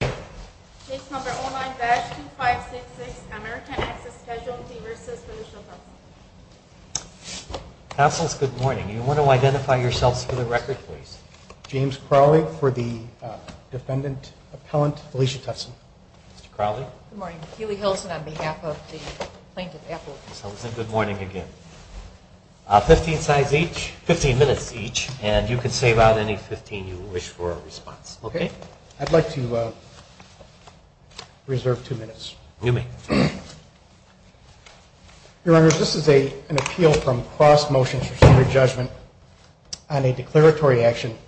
Case No. 09-2566, American Access Casualty v. Felicia Tutson. Counsels, good morning. Do you want to identify yourselves for the record, please? James Crowley for the defendant, appellant Felicia Tutson. Mr. Crowley? Good morning. Keely Hilsen on behalf of the plaintiff, appellant. Hilsen, good morning again. Fifteen minutes each, and you can save out any fifteen you wish for a response. Okay. I'd like to reserve two minutes. You may. Your Honor, this is an appeal from cross-motion for standard judgment on a declaratory action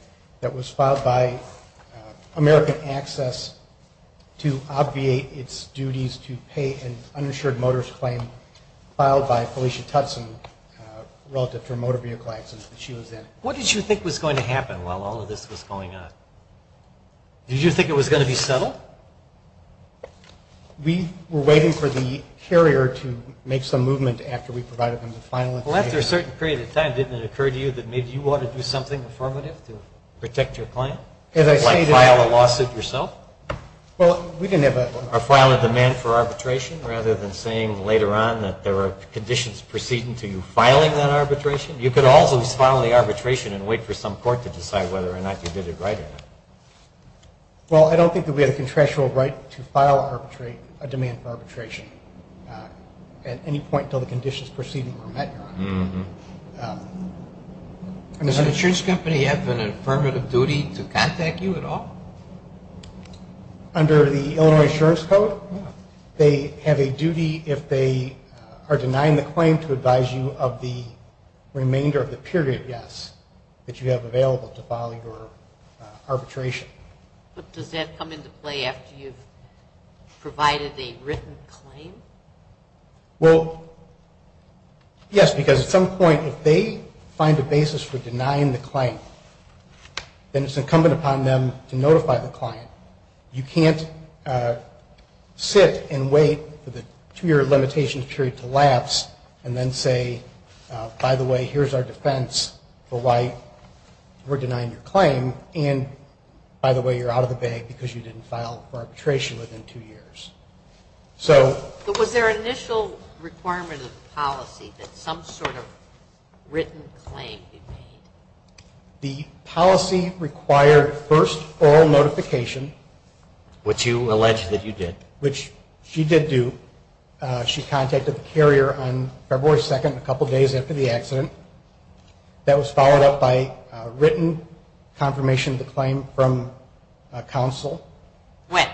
that was filed by American Access to obviate its duties to pay an uninsured motorist claim filed by Felicia Tutson relative to a motor vehicle accident that she was in. What did you think was going to happen while all of this was going on? Did you think it was going to be settled? We were waiting for the carrier to make some movement after we provided them with final information. Well, after a certain period of time, didn't it occur to you that maybe you ought to do something affirmative to protect your claim? As I say to you... Like file a lawsuit yourself? Well, we didn't have a... Or file a demand for arbitration rather than saying later on that there are conditions preceding to filing that arbitration? You could also file the arbitration and wait for some court to decide whether or not you did it right or not. Well, I don't think that we had a contractual right to file a demand for arbitration at any point until the conditions preceding were met, Your Honor. Mm-hmm. Does an insurance company have an affirmative duty to contact you at all? Under the Illinois Insurance Code? Yeah. They have a duty if they are denying the claim to advise you of the remainder of the period, yes, that you have available to file your arbitration. But does that come into play after you've provided a written claim? Well, yes, because at some point if they find a basis for denying the claim, then it's incumbent upon them to notify the client. You can't sit and wait for the two-year limitation period to lapse and then say, by the way, here's our defense for why we're denying your claim, and by the way, you're out of the bag because you didn't file for arbitration within two years. So... But was there an initial requirement of the policy that some sort of written claim be made? The policy required first oral notification. Which you allege that you did. Which she did do. She contacted the carrier on February 2nd, a couple days after the accident. That was followed up by a written confirmation of the claim from counsel. When?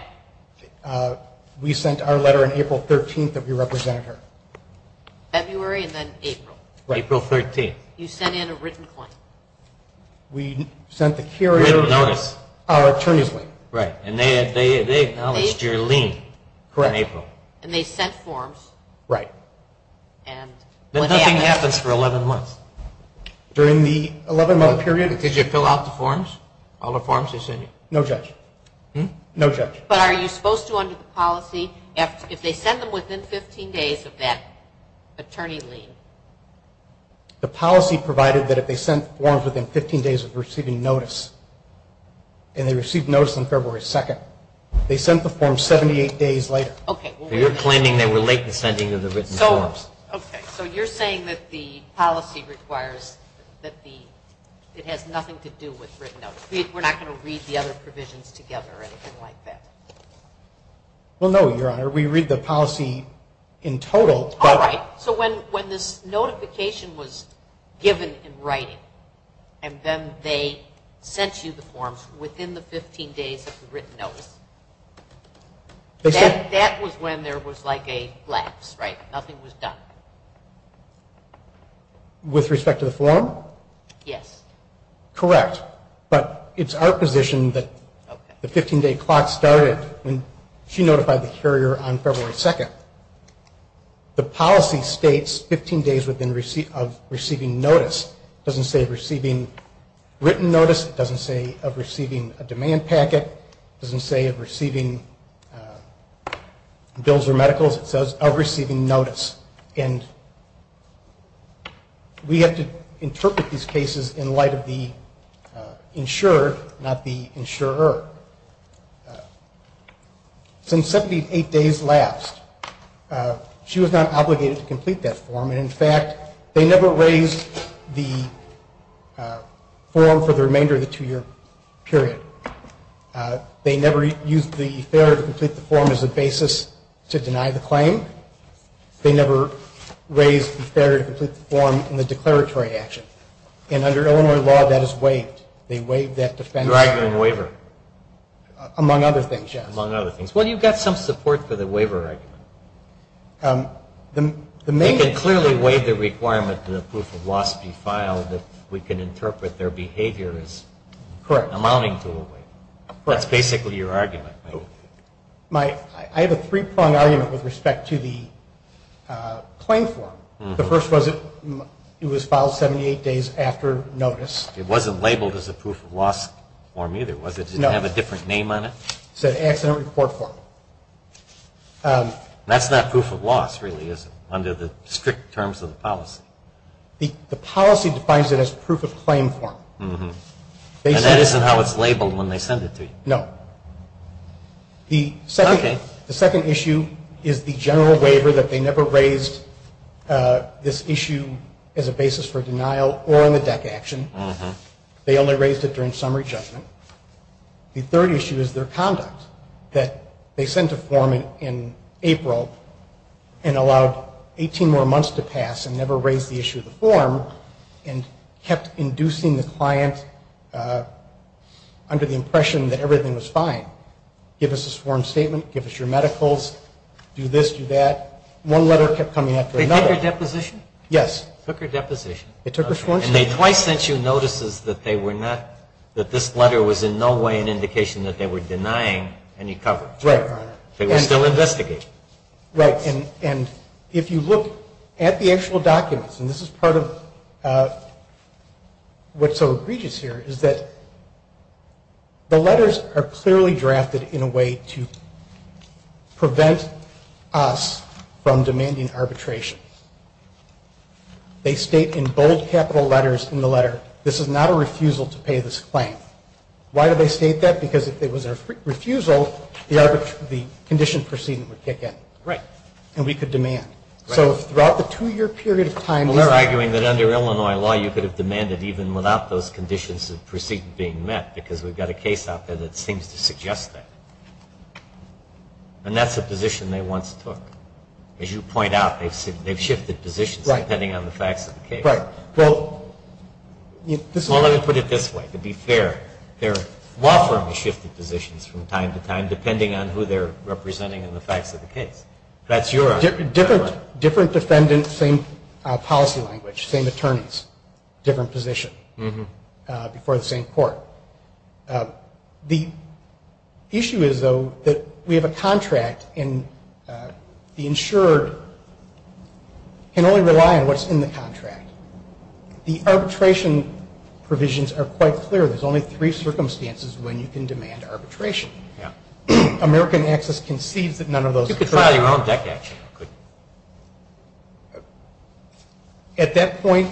We sent our letter on April 13th that we represented her. February and then April. Right. April 13th. You sent in a written claim. We sent the carrier our attorney's lien. Right. And they acknowledged your lien in April. Correct. And they sent forms. Right. But nothing happens for 11 months. During the 11-month period... Did you fill out the forms, all the forms they sent you? No, Judge. No, Judge. But are you supposed to under the policy, if they send them within 15 days of that attorney lien? The policy provided that if they sent forms within 15 days of receiving notice, and they received notice on February 2nd, they sent the form 78 days later. Okay. You're claiming they were late in sending the written forms. Okay. So you're saying that the policy requires that it has nothing to do with written notice. We're not going to read the other provisions together or anything like that? Well, no, Your Honor. We read the policy in total. All right. So when this notification was given in writing, and then they sent you the forms within the 15 days of the written notice, that was when there was like a lapse, right? Nothing was done. With respect to the form? Yes. Correct. But it's our position that the 15-day clock started when she notified the carrier on February 2nd. The policy states 15 days of receiving notice. It doesn't say receiving written notice. It doesn't say of receiving a demand packet. It doesn't say of receiving bills or medicals. It says of receiving notice. And we have to interpret these cases in light of the insurer, not the insurer. Since 78 days lapsed, she was not obligated to complete that form. And, in fact, they never raised the form for the remainder of the two-year period. They never used the failure to complete the form as a basis to deny the claim. They never raised the failure to complete the form in the declaratory action. And under Illinois law, that is waived. They waived that defense. Among other things, yes. Among other things. Well, you've got some support for the waiver argument. They can clearly waive the requirement that a proof of loss be filed if we can interpret their behavior as amounting to a waiver. That's basically your argument. I have a three-pronged argument with respect to the claim form. The first was it was filed 78 days after notice. It wasn't labeled as a proof of loss form either, was it? No. Did it have a different name on it? It's an accident report form. That's not proof of loss, really, is it, under the strict terms of the policy? The policy defines it as proof of claim form. And that isn't how it's labeled when they send it to you? No. Okay. The second issue is the general waiver that they never raised this issue as a basis for denial or in the DEC action. They only raised it during summary judgment. The third issue is their conduct, that they sent a form in April and allowed 18 more months to pass and never raised the issue of the form and kept inducing the client under the impression that everything was fine. Give us a sworn statement, give us your medicals, do this, do that. One letter kept coming after another. They took your deposition? Yes. Took your deposition. It took a sworn statement. And they twice sent you notices that this letter was in no way an indication that they were denying any coverage. Right, Your Honor. They were still investigating. Right. And if you look at the actual documents, and this is part of what's so egregious here, is that the letters are clearly drafted in a way to prevent us from demanding arbitration. They state in bold capital letters in the letter, this is not a refusal to pay this claim. Why do they state that? Because if it was a refusal, the condition proceeding would kick in. Right. And we could demand. Right. So throughout the two-year period of time. Well, they're arguing that under Illinois law you could have demanded even without those conditions that proceed being met because we've got a case out there that seems to suggest that. And that's a position they once took. As you point out, they've shifted positions depending on the facts of the case. Right. Well, let me put it this way. To be fair, their law firm has shifted positions from time to time depending on who they're representing in the facts of the case. That's your argument. Different defendants, same policy language, same attorneys, different position before the same court. The issue is, though, that we have a contract and the insured can only rely on what's in the contract. The arbitration provisions are quite clear. There's only three circumstances when you can demand arbitration. Yeah. American Access concedes that none of those occur. You could file your own deck action. At that point,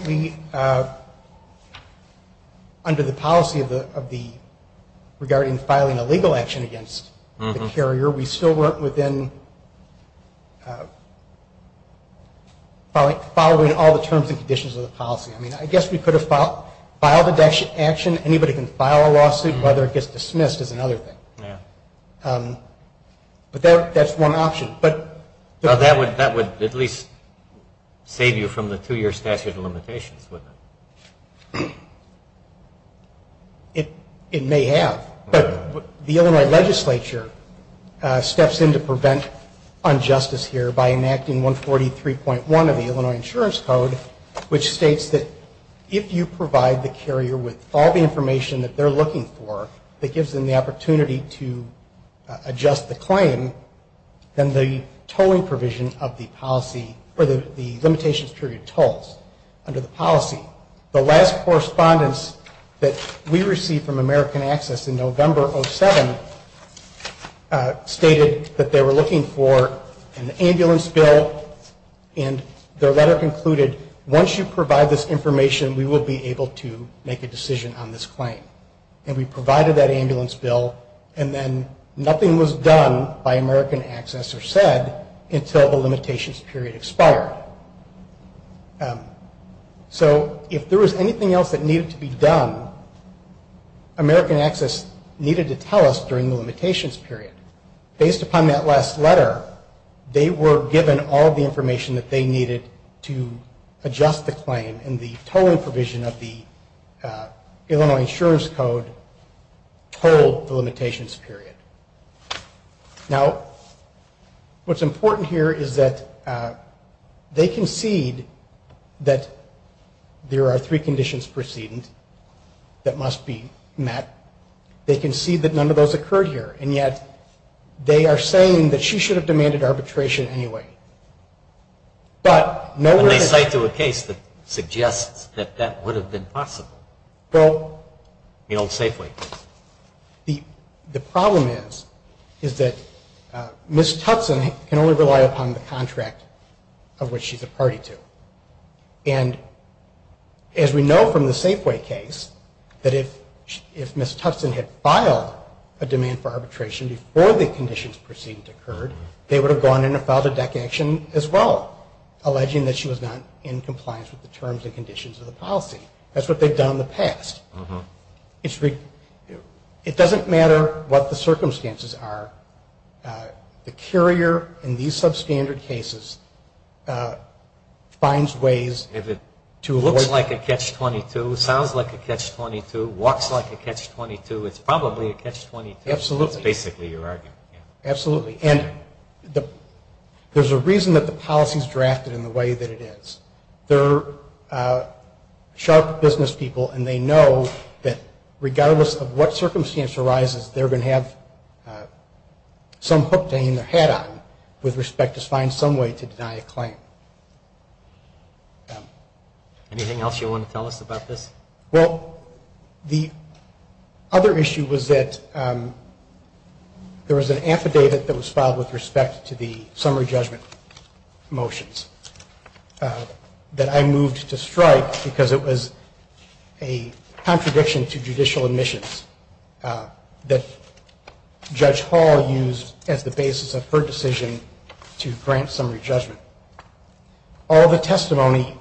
under the policy regarding filing a legal action against the carrier, we still weren't within following all the terms and conditions of the policy. I mean, I guess we could have filed a deck action. Anybody can file a lawsuit. Whether it gets dismissed is another thing. Yeah. But that's one option. That would at least save you from the two-year statute of limitations, wouldn't it? It may have. But the Illinois legislature steps in to prevent injustice here by enacting 143.1 of the Illinois Insurance Code, which states that if you provide the carrier with all the information that they're looking for that gives them the opportunity to adjust the claim, then the limitations period tolls under the policy. The last correspondence that we received from American Access in November of 2007 stated that they were looking for an ambulance bill, and their letter concluded, once you provide this information, we will be able to make a decision on this claim. And we provided that ambulance bill, and then nothing was done by American Access or said until the limitations period expired. So if there was anything else that needed to be done, American Access needed to tell us during the limitations period. Based upon that last letter, they were given all the information that they needed to adjust the claim, and the tolling provision of the Illinois Insurance Code tolled the limitations period. Now, what's important here is that they concede that there are three conditions precedent that must be met. They concede that none of those occurred here, and yet they are saying that she should have demanded arbitration anyway. And they cite to a case that suggests that that would have been possible, the old Safeway case. The problem is that Ms. Tutson can only rely upon the contract of which she's a party to. And as we know from the Safeway case, that if Ms. Tutson had filed a demand for arbitration before the conditions precedent occurred, they would have gone in and filed a deck action as well, alleging that she was not in compliance with the terms and conditions of the policy. That's what they've done in the past. It doesn't matter what the circumstances are. The carrier in these substandard cases finds ways to look like a catch-22, sounds like a catch-22, walks like a catch-22, is probably a catch-22. Absolutely. That's basically your argument. Absolutely. And there's a reason that the policy is drafted in the way that it is. They're sharp business people, and they know that regardless of what circumstance arises, they're going to have some hook to hang their hat on with respect to find some way to deny a claim. Anything else you want to tell us about this? Well, the other issue was that there was an affidavit that was filed with respect to the summary judgment motions that I moved to strike because it was a contradiction to judicial admissions that Judge Hall used as the basis of her decision to grant summary judgment. All the testimony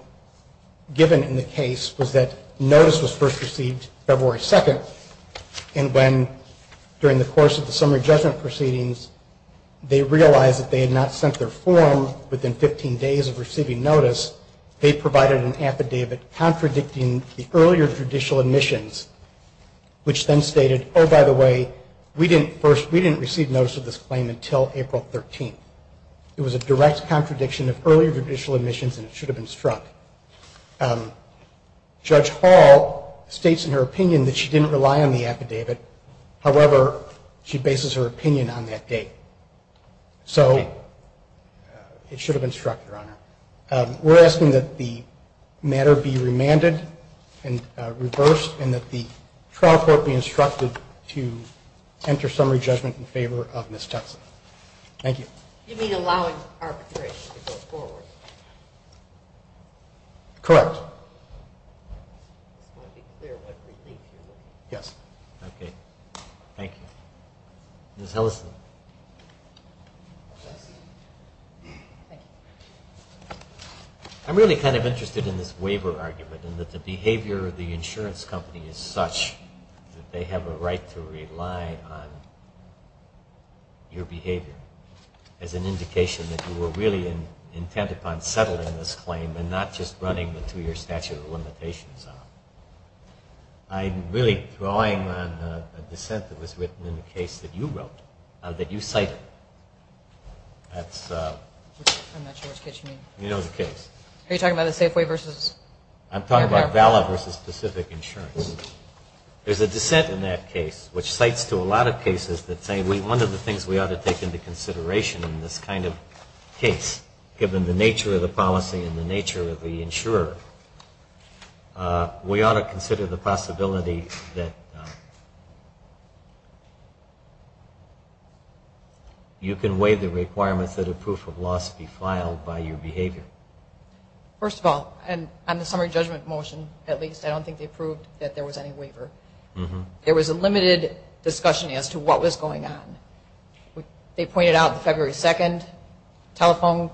given in the case was that notice was first received February 2nd, and when, during the course of the summary judgment proceedings, they realized that they had not sent their form within 15 days of receiving notice, they provided an affidavit contradicting the earlier judicial admissions, which then stated, oh, by the way, we didn't receive notice of this claim until April 13th. It was a direct contradiction of earlier judicial admissions, and it should have been struck. Judge Hall states in her opinion that she didn't rely on the affidavit. However, she bases her opinion on that date. So it should have been struck, Your Honor. We're asking that the matter be remanded and reversed, and that the trial court be instructed to enter summary judgment in favor of Ms. Tuckson. Thank you. You mean allowing arbitration to go forward? Correct. Just want to be clear what relief you're looking for. Yes. Okay. Thank you. Ms. Ellison. Yes. Thank you. I'm really kind of interested in this waiver argument, and that the behavior of the insurance company is such that they have a right to rely on your behavior as an indication that you were really intent upon settling this claim and not just running the two-year statute of limitations on it. I'm really drawing on a dissent that was written in the case that you wrote, that you cited. I'm not sure which case you mean. You know the case. Are you talking about the Safeway versus? I'm talking about VALA versus Pacific Insurance. There's a dissent in that case which cites to a lot of cases that say, one of the things we ought to take into consideration in this kind of case, given the nature of the policy and the nature of the insurer, we ought to consider the possibility that you can weigh the requirements that a proof of loss be filed by your behavior. First of all, on the summary judgment motion, at least, I don't think they proved that there was any waiver. There was a limited discussion as to what was going on. They pointed out February 2nd, telephone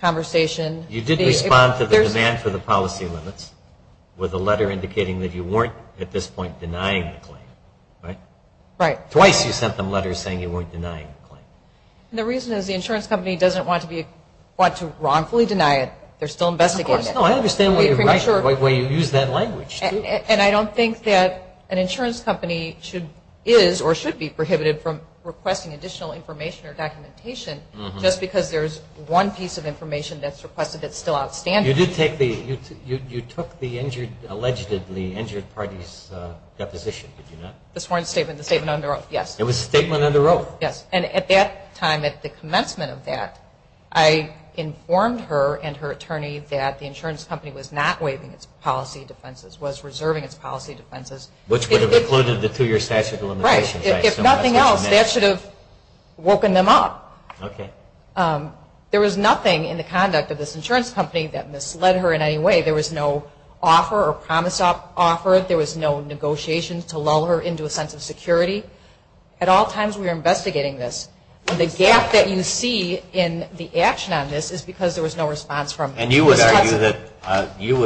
conversation. You did respond to the demand for the policy limits with a letter indicating that you weren't, at this point, denying the claim. Right? Right. Twice you sent them letters saying you weren't denying the claim. The reason is the insurance company doesn't want to wrongfully deny it. They're still investigating it. Of course. No, I understand why you use that language. And I don't think that an insurance company is or should be prohibited from requesting additional information or documentation just because there's one piece of information that's requested that's still outstanding. You took the allegedly injured party's deposition, did you not? The sworn statement, the statement under oath, yes. It was a statement under oath. Yes, and at that time, at the commencement of that, I informed her and her attorney that the insurance company was not waiving its policy defenses, was reserving its policy defenses. Which would have included the two-year statute of limitations. Right. If nothing else, that should have woken them up. Okay. There was nothing in the conduct of this insurance company that misled her in any way. There was no offer or promise offered. There was no negotiation to lull her into a sense of security. At all times, we were investigating this. And you would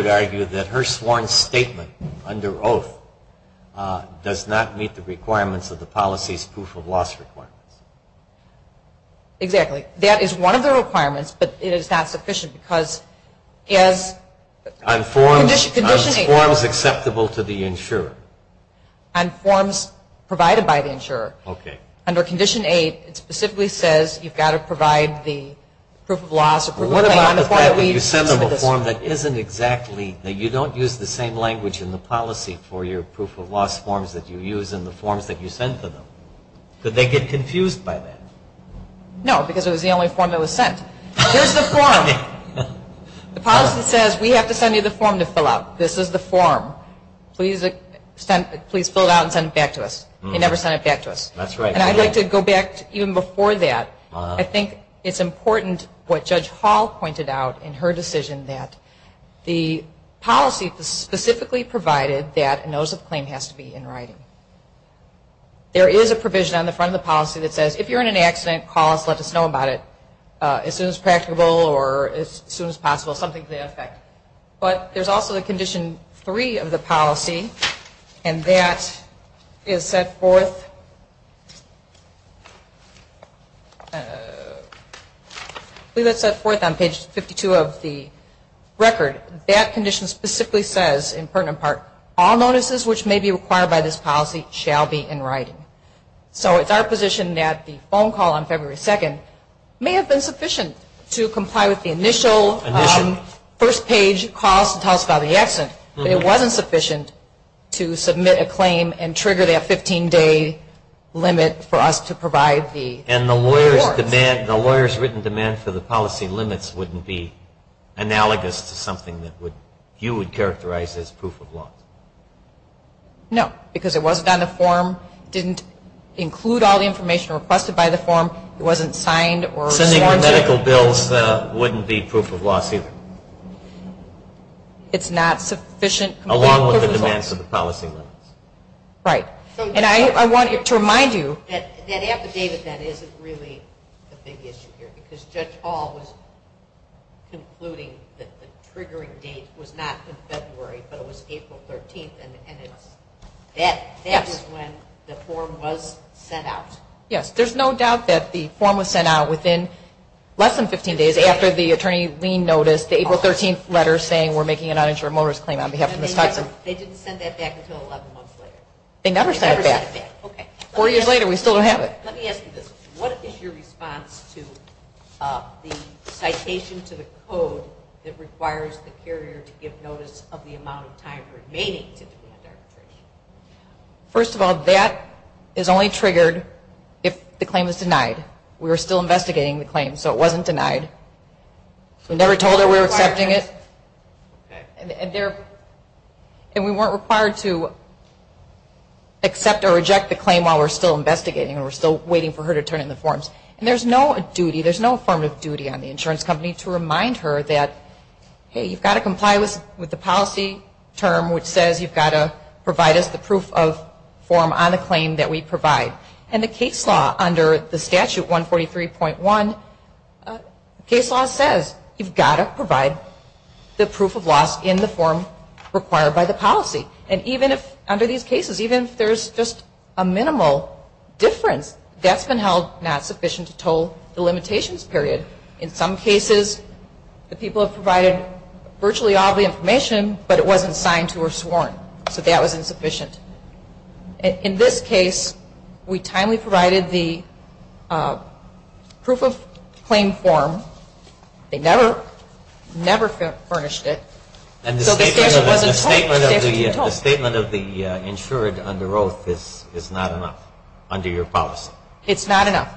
argue that her sworn statement under oath does not meet the requirements of the policy's proof of loss requirements. Exactly. That is one of the requirements, but it is not sufficient because as condition 8. On forms acceptable to the insurer. On forms provided by the insurer. Okay. Under condition 8, it specifically says you've got to provide the proof of loss You send them a form that isn't exactly, that you don't use the same language in the policy for your proof of loss forms that you use in the forms that you send to them. Did they get confused by that? No, because it was the only form that was sent. Here's the form. The policy says we have to send you the form to fill out. This is the form. Please fill it out and send it back to us. They never sent it back to us. That's right. And I'd like to go back even before that. I think it's important what Judge Hall pointed out in her decision that the policy specifically provided that a notice of claim has to be in writing. There is a provision on the front of the policy that says, if you're in an accident, call us, let us know about it as soon as practicable or as soon as possible, something to that effect. But there's also a condition three of the policy, and that is set forth on page 52 of the record. That condition specifically says, in pertinent part, all notices which may be required by this policy shall be in writing. So it's our position that the phone call on February 2nd may have been sufficient to comply with the initial first page call to tell us about the accident. But it wasn't sufficient to submit a claim and trigger that 15-day limit for us to provide the reports. And the lawyer's written demand for the policy limits wouldn't be analogous to something that you would characterize as proof of law? No, because it wasn't on the form. It didn't include all the information requested by the form. It wasn't signed or sworn to. So sending the medical bills wouldn't be proof of law either? It's not sufficient. Along with the demands of the policy limits. Right. And I wanted to remind you. That affidavit then isn't really the big issue here, because Judge Hall was concluding that the triggering date was not in February, but it was April 13th, and that is when the form was sent out. Yes. There's no doubt that the form was sent out within less than 15 days after the attorney leaned notice, the April 13th letter saying we're making an uninsured motorist claim on behalf of Ms. Hudson. They didn't send that back until 11 months later? They never sent it back. Okay. Four years later, we still don't have it. Let me ask you this. What is your response to the citation to the code that requires the carrier to give notice of the amount of time remaining to demand arbitration? First of all, that is only triggered if the claim is denied. We were still investigating the claim, so it wasn't denied. We never told her we were accepting it. And we weren't required to accept or reject the claim while we're still investigating or we're still waiting for her to turn in the forms. And there's no duty, there's no form of duty on the insurance company to remind her that, hey, you've got to comply with the policy term, which says you've got to provide us the proof of form on the claim that we provide. And the case law under the statute 143.1, case law says you've got to provide the proof of loss in the form required by the policy. And even if under these cases, even if there's just a minimal difference, that's been held not sufficient to toll the limitations period. In some cases, the people have provided virtually all the information, but it wasn't signed to or sworn. So that was insufficient. In this case, we timely provided the proof of claim form. They never, never furnished it. And the statement of the insured under oath is not enough under your policy? It's not enough.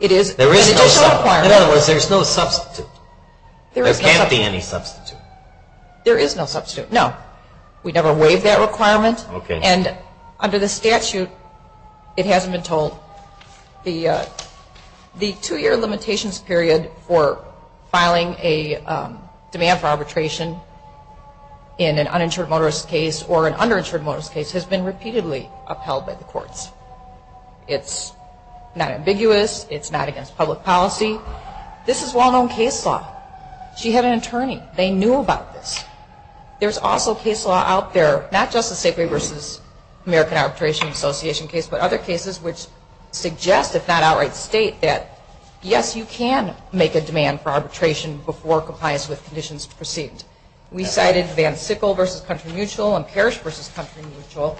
In other words, there's no substitute. There can't be any substitute. There is no substitute, no. We never waived that requirement. And under the statute, it hasn't been told. The two-year limitations period for filing a demand for arbitration in an uninsured motorist case or an underinsured motorist case has been repeatedly upheld by the courts. It's not ambiguous. It's not against public policy. This is well-known case law. She had an attorney. They knew about this. There's also case law out there, not just the Safeway v. American Arbitration Association case, but other cases which suggest, if not outright state, that, yes, you can make a demand for arbitration before compliance with conditions proceed. We cited Van Sickle v. Country Mutual and Parrish v. Country Mutual.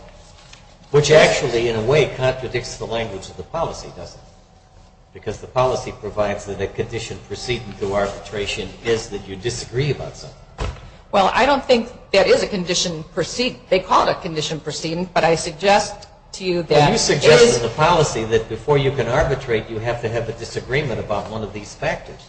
Which actually, in a way, contradicts the language of the policy, doesn't it? Because the policy provides that a condition proceeding through arbitration is that you disagree about something. Well, I don't think that is a condition proceeding. They call it a condition proceeding, but I suggest to you that there is. Well, you suggested in the policy that before you can arbitrate, you have to have a disagreement about one of these factors.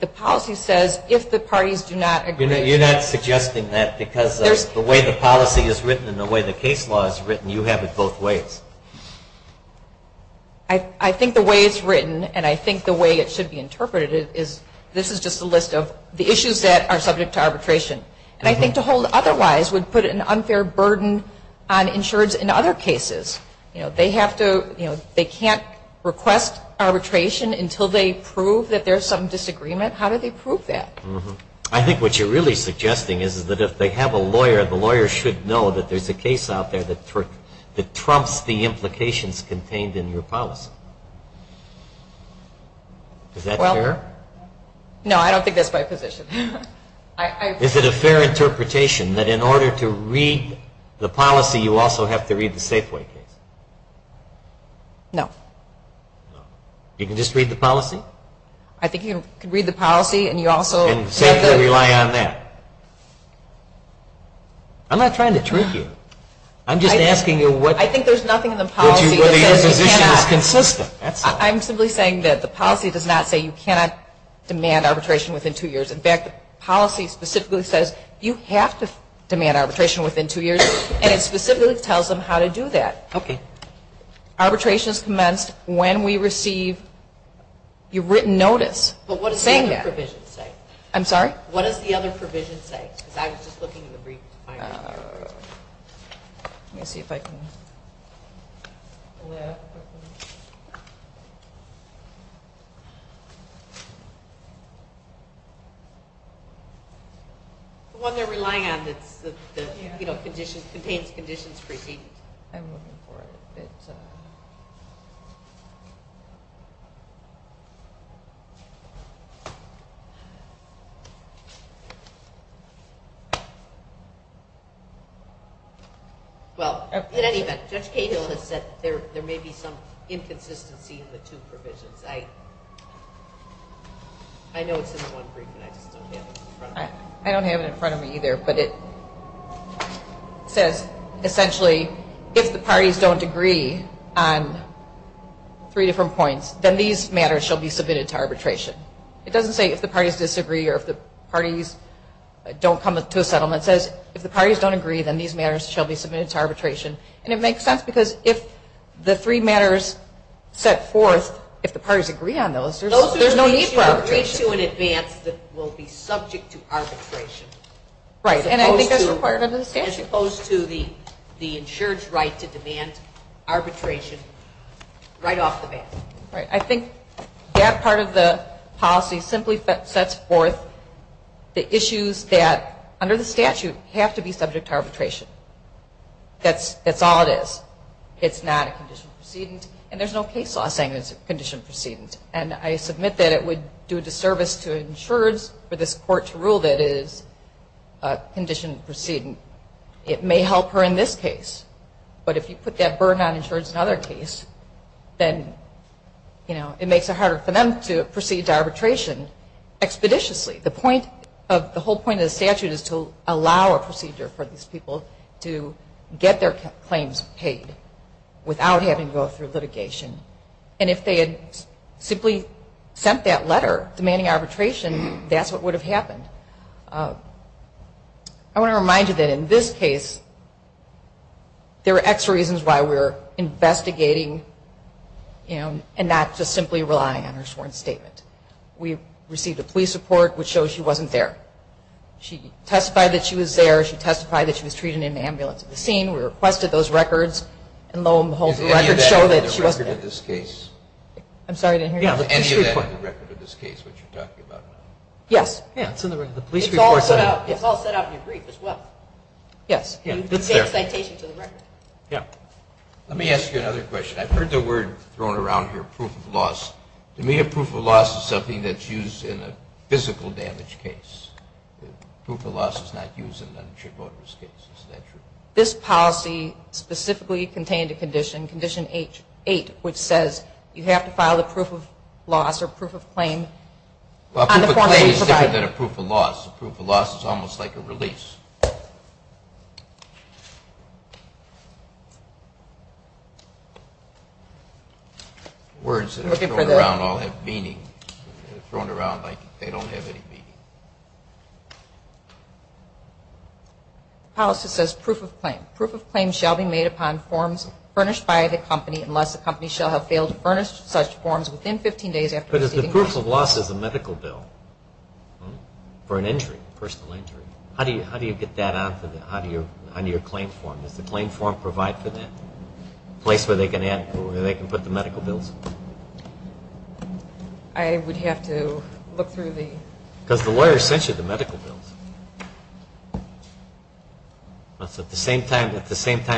The policy says, if the parties do not agree. You're not suggesting that because of the way the policy is written and the way the case law is written. You have it both ways. I think the way it's written, and I think the way it should be interpreted, is this is just a list of the issues that are subject to arbitration. And I think to hold otherwise would put an unfair burden on insurers in other cases. They can't request arbitration until they prove that there's some disagreement. How do they prove that? I think what you're really suggesting is that if they have a lawyer, the lawyer should know that there's a case out there that trumps the implications contained in your policy. Is that fair? No, I don't think that's my position. Is it a fair interpretation that in order to read the policy, you also have to read the Safeway case? No. You can just read the policy? No. I think you can read the policy and you also have to – And safely rely on that. I'm not trying to trick you. I'm just asking you what – I think there's nothing in the policy that says you cannot – But your position is consistent. I'm simply saying that the policy does not say you cannot demand arbitration within two years. In fact, the policy specifically says you have to demand arbitration within two years, and it specifically tells them how to do that. Okay. Arbitration is commenced when we receive your written notice saying that. But what does the other provision say? I'm sorry? What does the other provision say? Because I was just looking in the brief. Let me see if I can – The one they're relying on that, you know, contains conditions preceding. I'm looking for it. Let me see if it – Well, in any event, Judge Cahill has said there may be some inconsistency in the two provisions. I know it's in the one brief, and I just don't have it in front of me. I don't have it in front of me either, but it says essentially if the parties don't agree on three different points, then these matters shall be submitted to arbitration. It doesn't say if the parties disagree or if the parties don't come to a settlement. It says if the parties don't agree, then these matters shall be submitted to arbitration. And it makes sense because if the three matters set forth, if the parties agree on those, there's no need for arbitration. that will be subject to arbitration. Right, and I think that's required under the statute. As opposed to the insured's right to demand arbitration right off the bat. Right. I think that part of the policy simply sets forth the issues that, under the statute, have to be subject to arbitration. That's all it is. It's not a condition preceding, and there's no case law saying it's a condition preceding. And I submit that it would do a disservice to insured's for this court to rule that it is a condition preceding. It may help her in this case, but if you put that burden on insured's in another case, then it makes it harder for them to proceed to arbitration expeditiously. The whole point of the statute is to allow a procedure for these people to get their claims paid without having to go through litigation. And if they had simply sent that letter demanding arbitration, that's what would have happened. I want to remind you that in this case, there are extra reasons why we're investigating, you know, and not just simply relying on her sworn statement. We received a police report which shows she wasn't there. She testified that she was there. She testified that she was treated in an ambulance at the scene. We requested those records, and lo and behold, the records show that she wasn't there. Is any of that in the record of this case? I'm sorry, I didn't hear you. Yeah, the police report. Is any of that in the record of this case, what you're talking about? Yes. Yeah, it's in the police report. It's all set out in your brief as well. Yes. You can take a citation to the record. Yeah. Let me ask you another question. I've heard the word thrown around here, proof of loss. To me, a proof of loss is something that's used in a physical damage case. Proof of loss is not used in an uninsured voter's case. Is that true? This policy specifically contained a condition, Condition 8, which says you have to file a proof of loss or proof of claim. A proof of claim is different than a proof of loss. A proof of loss is almost like a release. Words that are thrown around all have meaning. They're thrown around like they don't have any meaning. The policy says proof of claim. Proof of claim shall be made upon forms furnished by the company unless the company shall have failed to furnish such forms within 15 days after receiving them. But the proof of loss is a medical bill for an injury, a personal injury. How do you get that onto your claim form? Does the claim form provide for that, a place where they can put the medical bills? I would have to look through the – Because the lawyer sent you the medical bills. So at the same time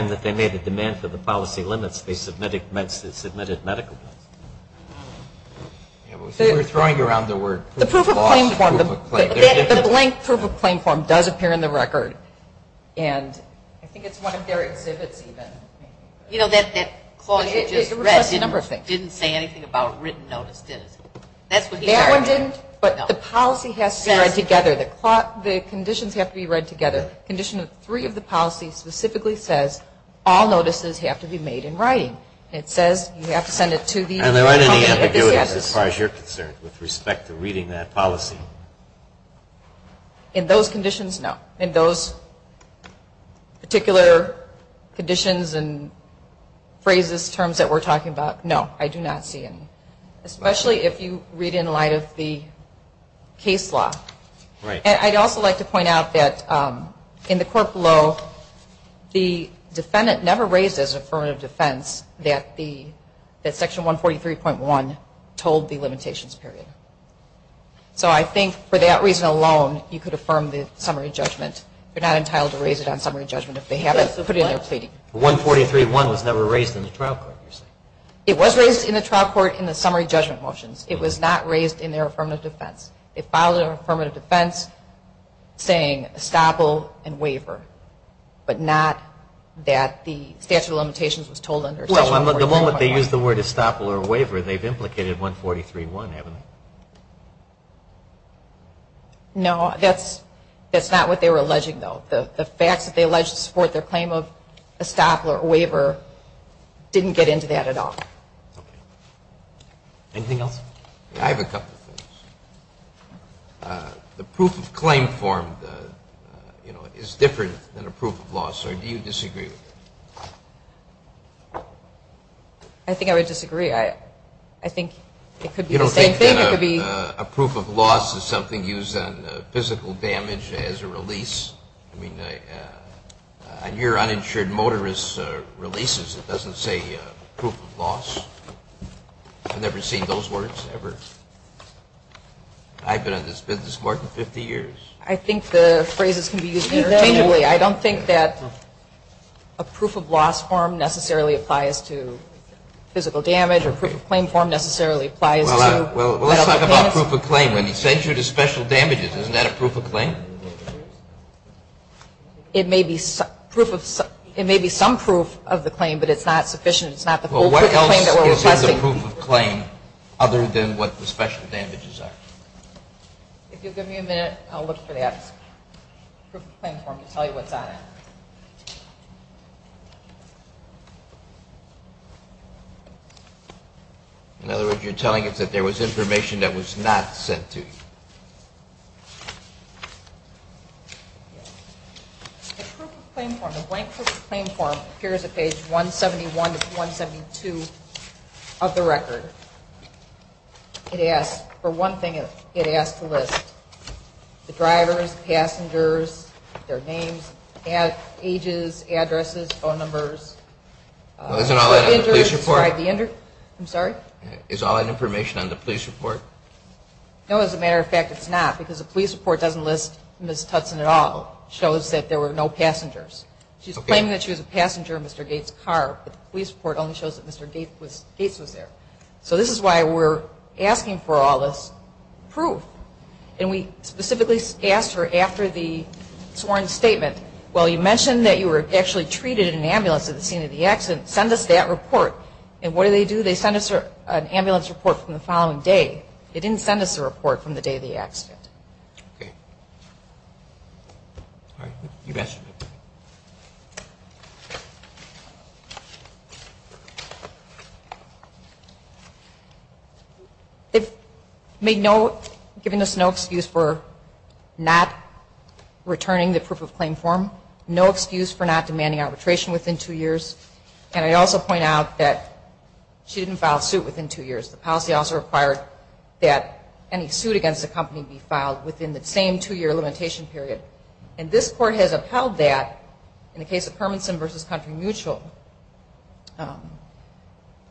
that they made the demand for the policy limits, they submitted medical bills. We're throwing around the word proof of loss, proof of claim. The blank proof of claim form does appear in the record, and I think it's one of their exhibits even. You know, that clause you just read didn't say anything about written notice, did it? That one didn't, but the policy has to be read together. The conditions have to be read together. The condition of three of the policies specifically says all notices have to be made in writing. It says you have to send it to the company. Are there any ambiguities as far as you're concerned with respect to reading that policy? In those conditions, no. In those particular conditions and phrases, terms that we're talking about, no. I do not see any, especially if you read in light of the case law. And I'd also like to point out that in the court below, the defendant never raised as an affirmative defense that Section 143.1 told the limitations period. So I think for that reason alone, you could affirm the summary judgment. You're not entitled to raise it on summary judgment if they haven't put in their pleading. 143.1 was never raised in the trial court, you're saying? It was raised in the trial court in the summary judgment motions. It was not raised in their affirmative defense. It filed an affirmative defense saying estoppel and waiver, The moment they used the word estoppel or waiver, they've implicated 143.1, haven't they? No, that's not what they were alleging, though. The facts that they alleged to support their claim of estoppel or waiver didn't get into that at all. Anything else? I have a couple of things. The proof of claim form is different than a proof of loss, or do you disagree with that? I think I would disagree. I think it could be the same thing. You don't think that a proof of loss is something used on physical damage as a release? I mean, on your uninsured motorist releases, it doesn't say proof of loss. I've never seen those words ever. I've been in this business more than 50 years. I think the phrases can be used interchangeably. I don't think that a proof of loss form necessarily applies to physical damage, or proof of claim form necessarily applies to medical payments. Well, let's talk about proof of claim. When he sends you to special damages, isn't that a proof of claim? It may be some proof of the claim, but it's not sufficient. It's not the full proof of claim that we're requesting. Well, what else is in the proof of claim other than what the special damages are? If you'll give me a minute, I'll look for that proof of claim form to tell you what's on it. In other words, you're telling us that there was information that was not sent to you. Yes. The proof of claim form, the blank proof of claim form, appears at page 171 to 172 of the record. It asks for one thing. It asks to list the drivers, passengers, their names, ages, addresses, phone numbers. Well, isn't all that in the police report? I'm sorry? Is all that information on the police report? No. As a matter of fact, it's not, because the police report doesn't list Ms. Tutson at all. It shows that there were no passengers. She's claiming that she was a passenger in Mr. Gates' car, but the police report only shows that Mr. Gates was there. So this is why we're asking for all this proof. And we specifically asked her after the sworn statement, well, you mentioned that you were actually treated in an ambulance at the scene of the accident. Send us that report. And what do they do? They send us an ambulance report from the following day. They didn't send us a report from the day of the accident. Okay. All right. You've asked for it. It made no, giving us no excuse for not returning the proof of claim form, no excuse for not demanding arbitration within two years, and I also point out that she didn't file a suit within two years. The policy also required that any suit against the company be filed within the same two-year limitation period. And this court has upheld that in the case of Hermanson v. Country Mutual.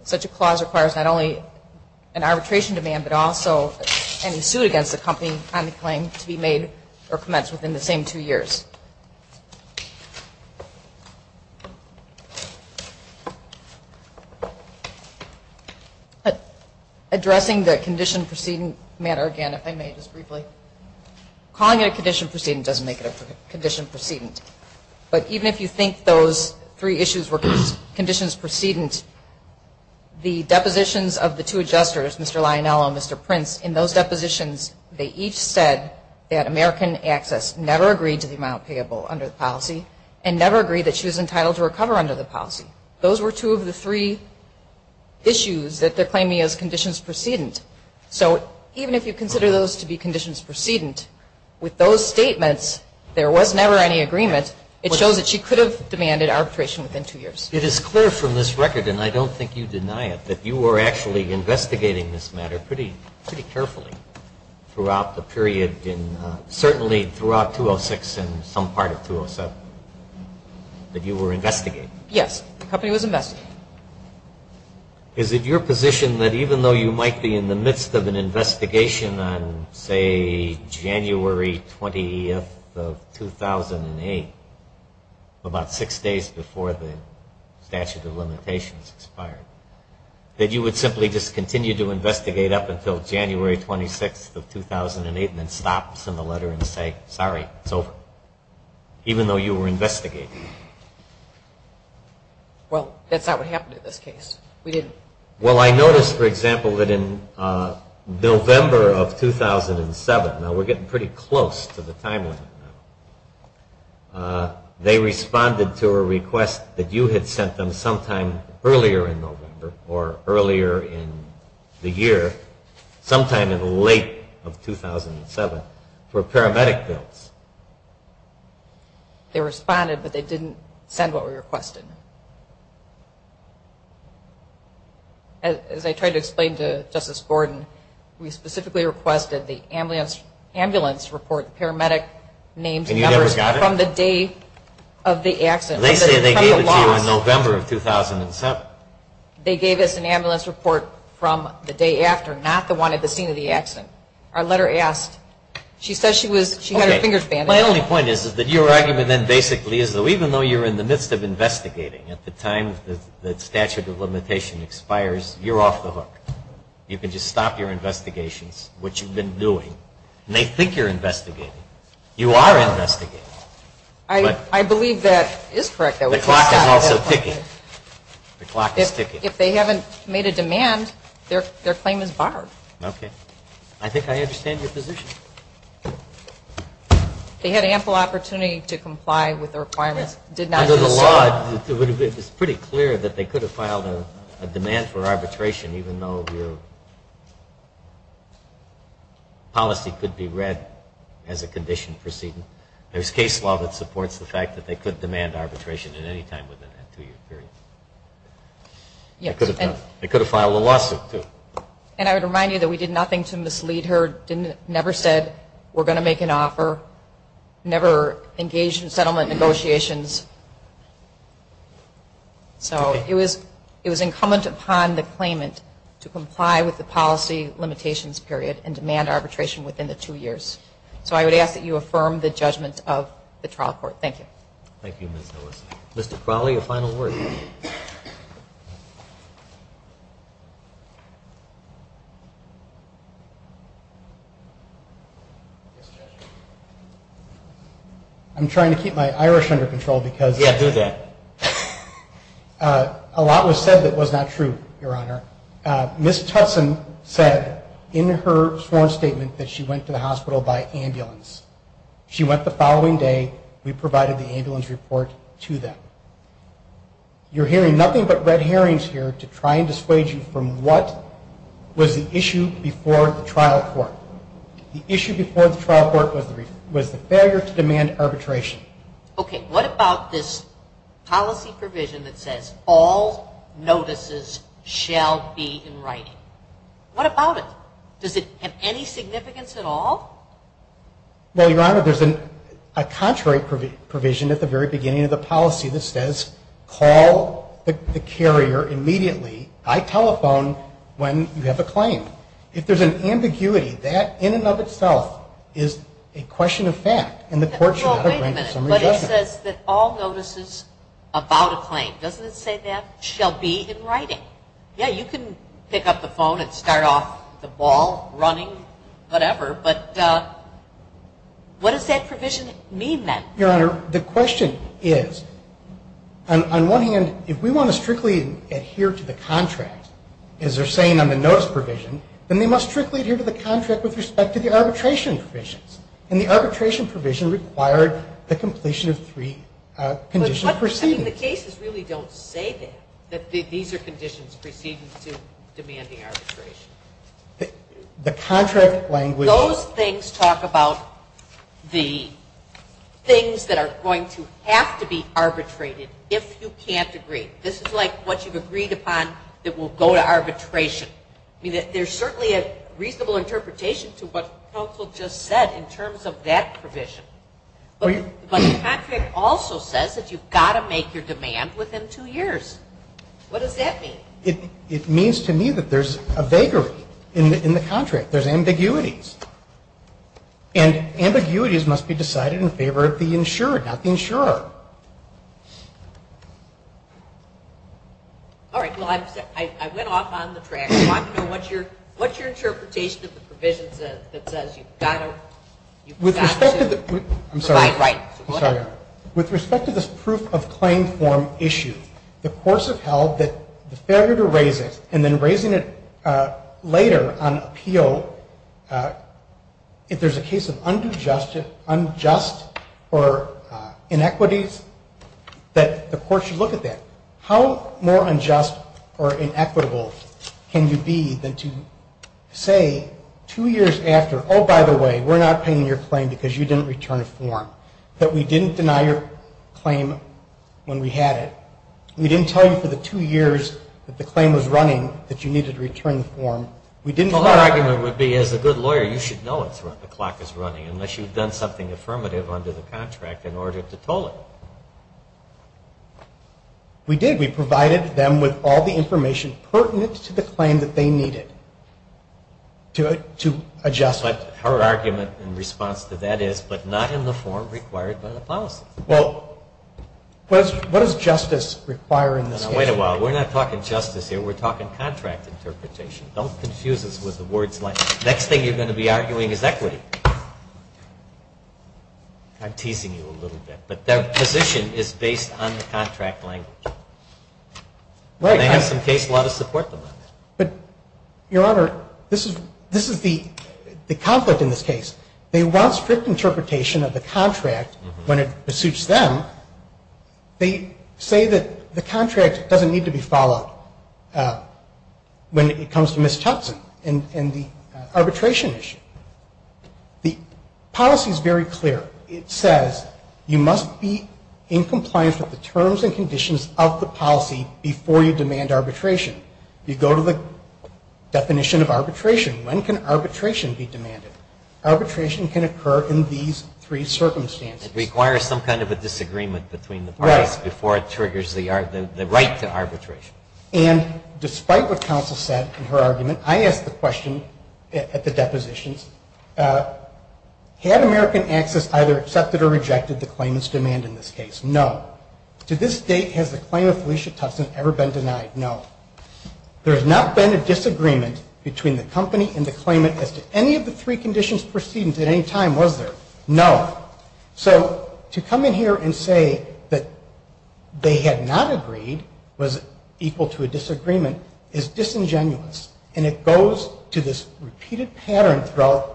Such a clause requires not only an arbitration demand, but also any suit against the company on the claim to be made or commenced within the same two years. Addressing the condition preceding matter again, if I may just briefly, calling it a condition preceding doesn't make it a condition preceding. But even if you think those three issues were conditions preceding, the depositions of the two adjusters, Mr. Lionel and Mr. Prince, in those depositions they each said that American Access never agreed to the amount payable under the policy and never agreed that she was entitled to recover under the policy. Those were two of the three issues that they're claiming as conditions preceding. So even if you consider those to be conditions preceding, with those statements, there was never any agreement. It shows that she could have demanded arbitration within two years. It is clear from this record, and I don't think you deny it, that you were actually investigating this matter pretty carefully throughout the period, certainly throughout 206 and some part of 207, that you were investigating. Yes. The company was investigating. Is it your position that even though you might be in the midst of an investigation on, say, January 20th of 2008, about six days before the statute of limitations expired, that you would simply just continue to investigate up until January 26th of 2008 and then stop, send a letter, and say, sorry, it's over, even though you were investigating? Well, that's not what happened in this case. We didn't. Well, I noticed, for example, that in November of 2007, now we're getting pretty close to the time limit now, they responded to a request that you had sent them sometime earlier in November or earlier in the year, sometime in late of 2007 for paramedic bills. They responded, but they didn't send what we requested. As I tried to explain to Justice Gordon, we specifically requested the ambulance report, paramedic names and numbers, from the day of the accident. They say they gave it to you in November of 2007. They gave us an ambulance report from the day after, not the one at the scene of the accident. Our letter asked, she said she had her fingers bandaged. My only point is that your argument then basically is that even though you're in the midst of investigating at the time the statute of limitation expires, you're off the hook. You can just stop your investigations, which you've been doing, and they think you're investigating. You are investigating. I believe that is correct. The clock is also ticking. The clock is ticking. If they haven't made a demand, their claim is barred. Okay. I think I understand your position. They had ample opportunity to comply with the requirements. Under the law, it's pretty clear that they could have filed a demand for arbitration, even though the policy could be read as a condition proceeding. There's case law that supports the fact that they could demand arbitration at any time within that two-year period. They could have filed a lawsuit, too. And I would remind you that we did nothing to mislead her. We never said we're going to make an offer, never engaged in settlement negotiations. So it was incumbent upon the claimant to comply with the policy limitations period and demand arbitration within the two years. So I would ask that you affirm the judgment of the trial court. Thank you. Thank you, Ms. Ellison. Mr. Crowley, a final word. I'm trying to keep my Irish under control because a lot was said that was not true, Your Honor. Ms. Tutson said in her sworn statement that she went to the hospital by ambulance. She went the following day. We provided the ambulance report to them. You're hearing nothing but red herrings here to try and dissuade you from what was the issue before the trial court. The issue before the trial court was the failure to demand arbitration. Okay, what about this policy provision that says all notices shall be in writing? What about it? Does it have any significance at all? Well, Your Honor, there's a contrary provision at the very beginning of the policy that says call the carrier immediately by telephone when you have a claim. If there's an ambiguity, that in and of itself is a question of fact, and the court should have to render some adjustment. But it says that all notices about a claim. Doesn't it say that? Shall be in writing. Yeah, you can pick up the phone and start off the ball running, whatever, but what does that provision mean then? Your Honor, the question is, on one hand, if we want to strictly adhere to the contract, as they're saying on the notice provision, then they must strictly adhere to the contract with respect to the arbitration provisions, and the arbitration provision required the completion of three conditional proceedings. I mean, the cases really don't say that, that these are conditions preceding to demanding arbitration. The contract language. Those things talk about the things that are going to have to be arbitrated if you can't agree. This is like what you've agreed upon that will go to arbitration. I mean, there's certainly a reasonable interpretation to what counsel just said in terms of that provision. But the contract also says that you've got to make your demand within two years. What does that mean? It means to me that there's a vagary in the contract. There's ambiguities. And ambiguities must be decided in favor of the insurer, not the insurer. All right. Well, I went off on the track. What's your interpretation of the provisions that says you've got to provide rights? I'm sorry. With respect to this proof of claim form issue, the courts have held that the failure to raise it and then raising it later on appeal, if there's a case of unjust or inequities, that the court should look at that. How more unjust or inequitable can you be than to say two years after, oh, by the way, we're not paying your claim because you didn't return a form, that we didn't deny your claim when we had it. We didn't tell you for the two years that the claim was running that you needed to return the form. Our argument would be, as a good lawyer, you should know when the clock is running, unless you've done something affirmative under the contract in order to toll it. We did. We provided them with all the information pertinent to the claim that they needed to adjust. But our argument in response to that is, but not in the form required by the policies. Well, what does justice require in this case? Now, wait a while. We're not talking justice here. We're talking contract interpretation. Don't confuse us with the words like, next thing you're going to be arguing is equity. I'm teasing you a little bit. But their position is based on the contract language. They have some case law to support them on that. But, Your Honor, this is the conflict in this case. They want strict interpretation of the contract when it pursuits them. They say that the contract doesn't need to be followed when it comes to Ms. Tubson and the arbitration issue. The policy is very clear. It says you must be in compliance with the terms and conditions of the policy before you demand arbitration. You go to the definition of arbitration. When can arbitration be demanded? Arbitration can occur in these three circumstances. It requires some kind of a disagreement between the parties before it triggers the right to arbitration. And despite what counsel said in her argument, I asked the question at the depositions, had American Access either accepted or rejected the claimant's demand in this case? No. To this date, has the claim of Felicia Tubson ever been denied? No. There has not been a disagreement between the company and the claimant as to any of the three conditions preceding it at any time, was there? No. So to come in here and say that they had not agreed was equal to a disagreement is disingenuous, and it goes to this repeated pattern throughout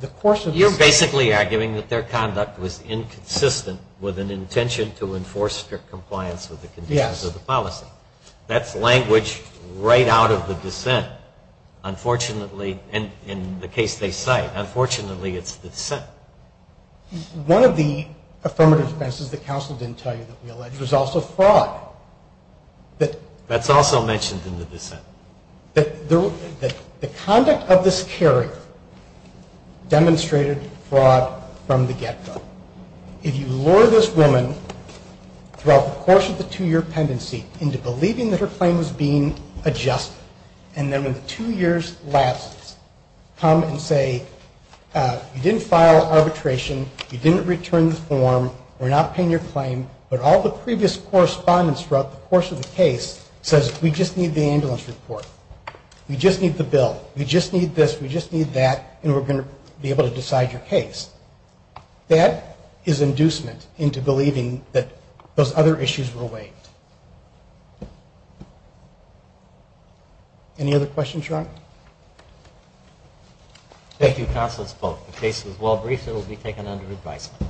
the course of this case. You're basically arguing that their conduct was inconsistent with an intention to enforce strict compliance with the conditions of the policy. That's language right out of the dissent. Unfortunately, in the case they cite, unfortunately it's the dissent. One of the affirmative defenses that counsel didn't tell you that we allege was also fraud. That's also mentioned in the dissent. The conduct of this carrier demonstrated fraud from the get-go. If you lure this woman throughout the course of the two-year pendency into believing that her claim was being adjusted, and then when the two years lapses, come and say, you didn't file arbitration, you didn't return the form, we're not paying your claim, but all the previous correspondence throughout the course of the case says we just need the ambulance report. We just need the bill. We just need this. We just need that, and we're going to be able to decide your case. That is inducement into believing that those other issues were waived. Any other questions, Your Honor? Thank you, Counselor Spock. The case was well briefed. It will be taken under advisement.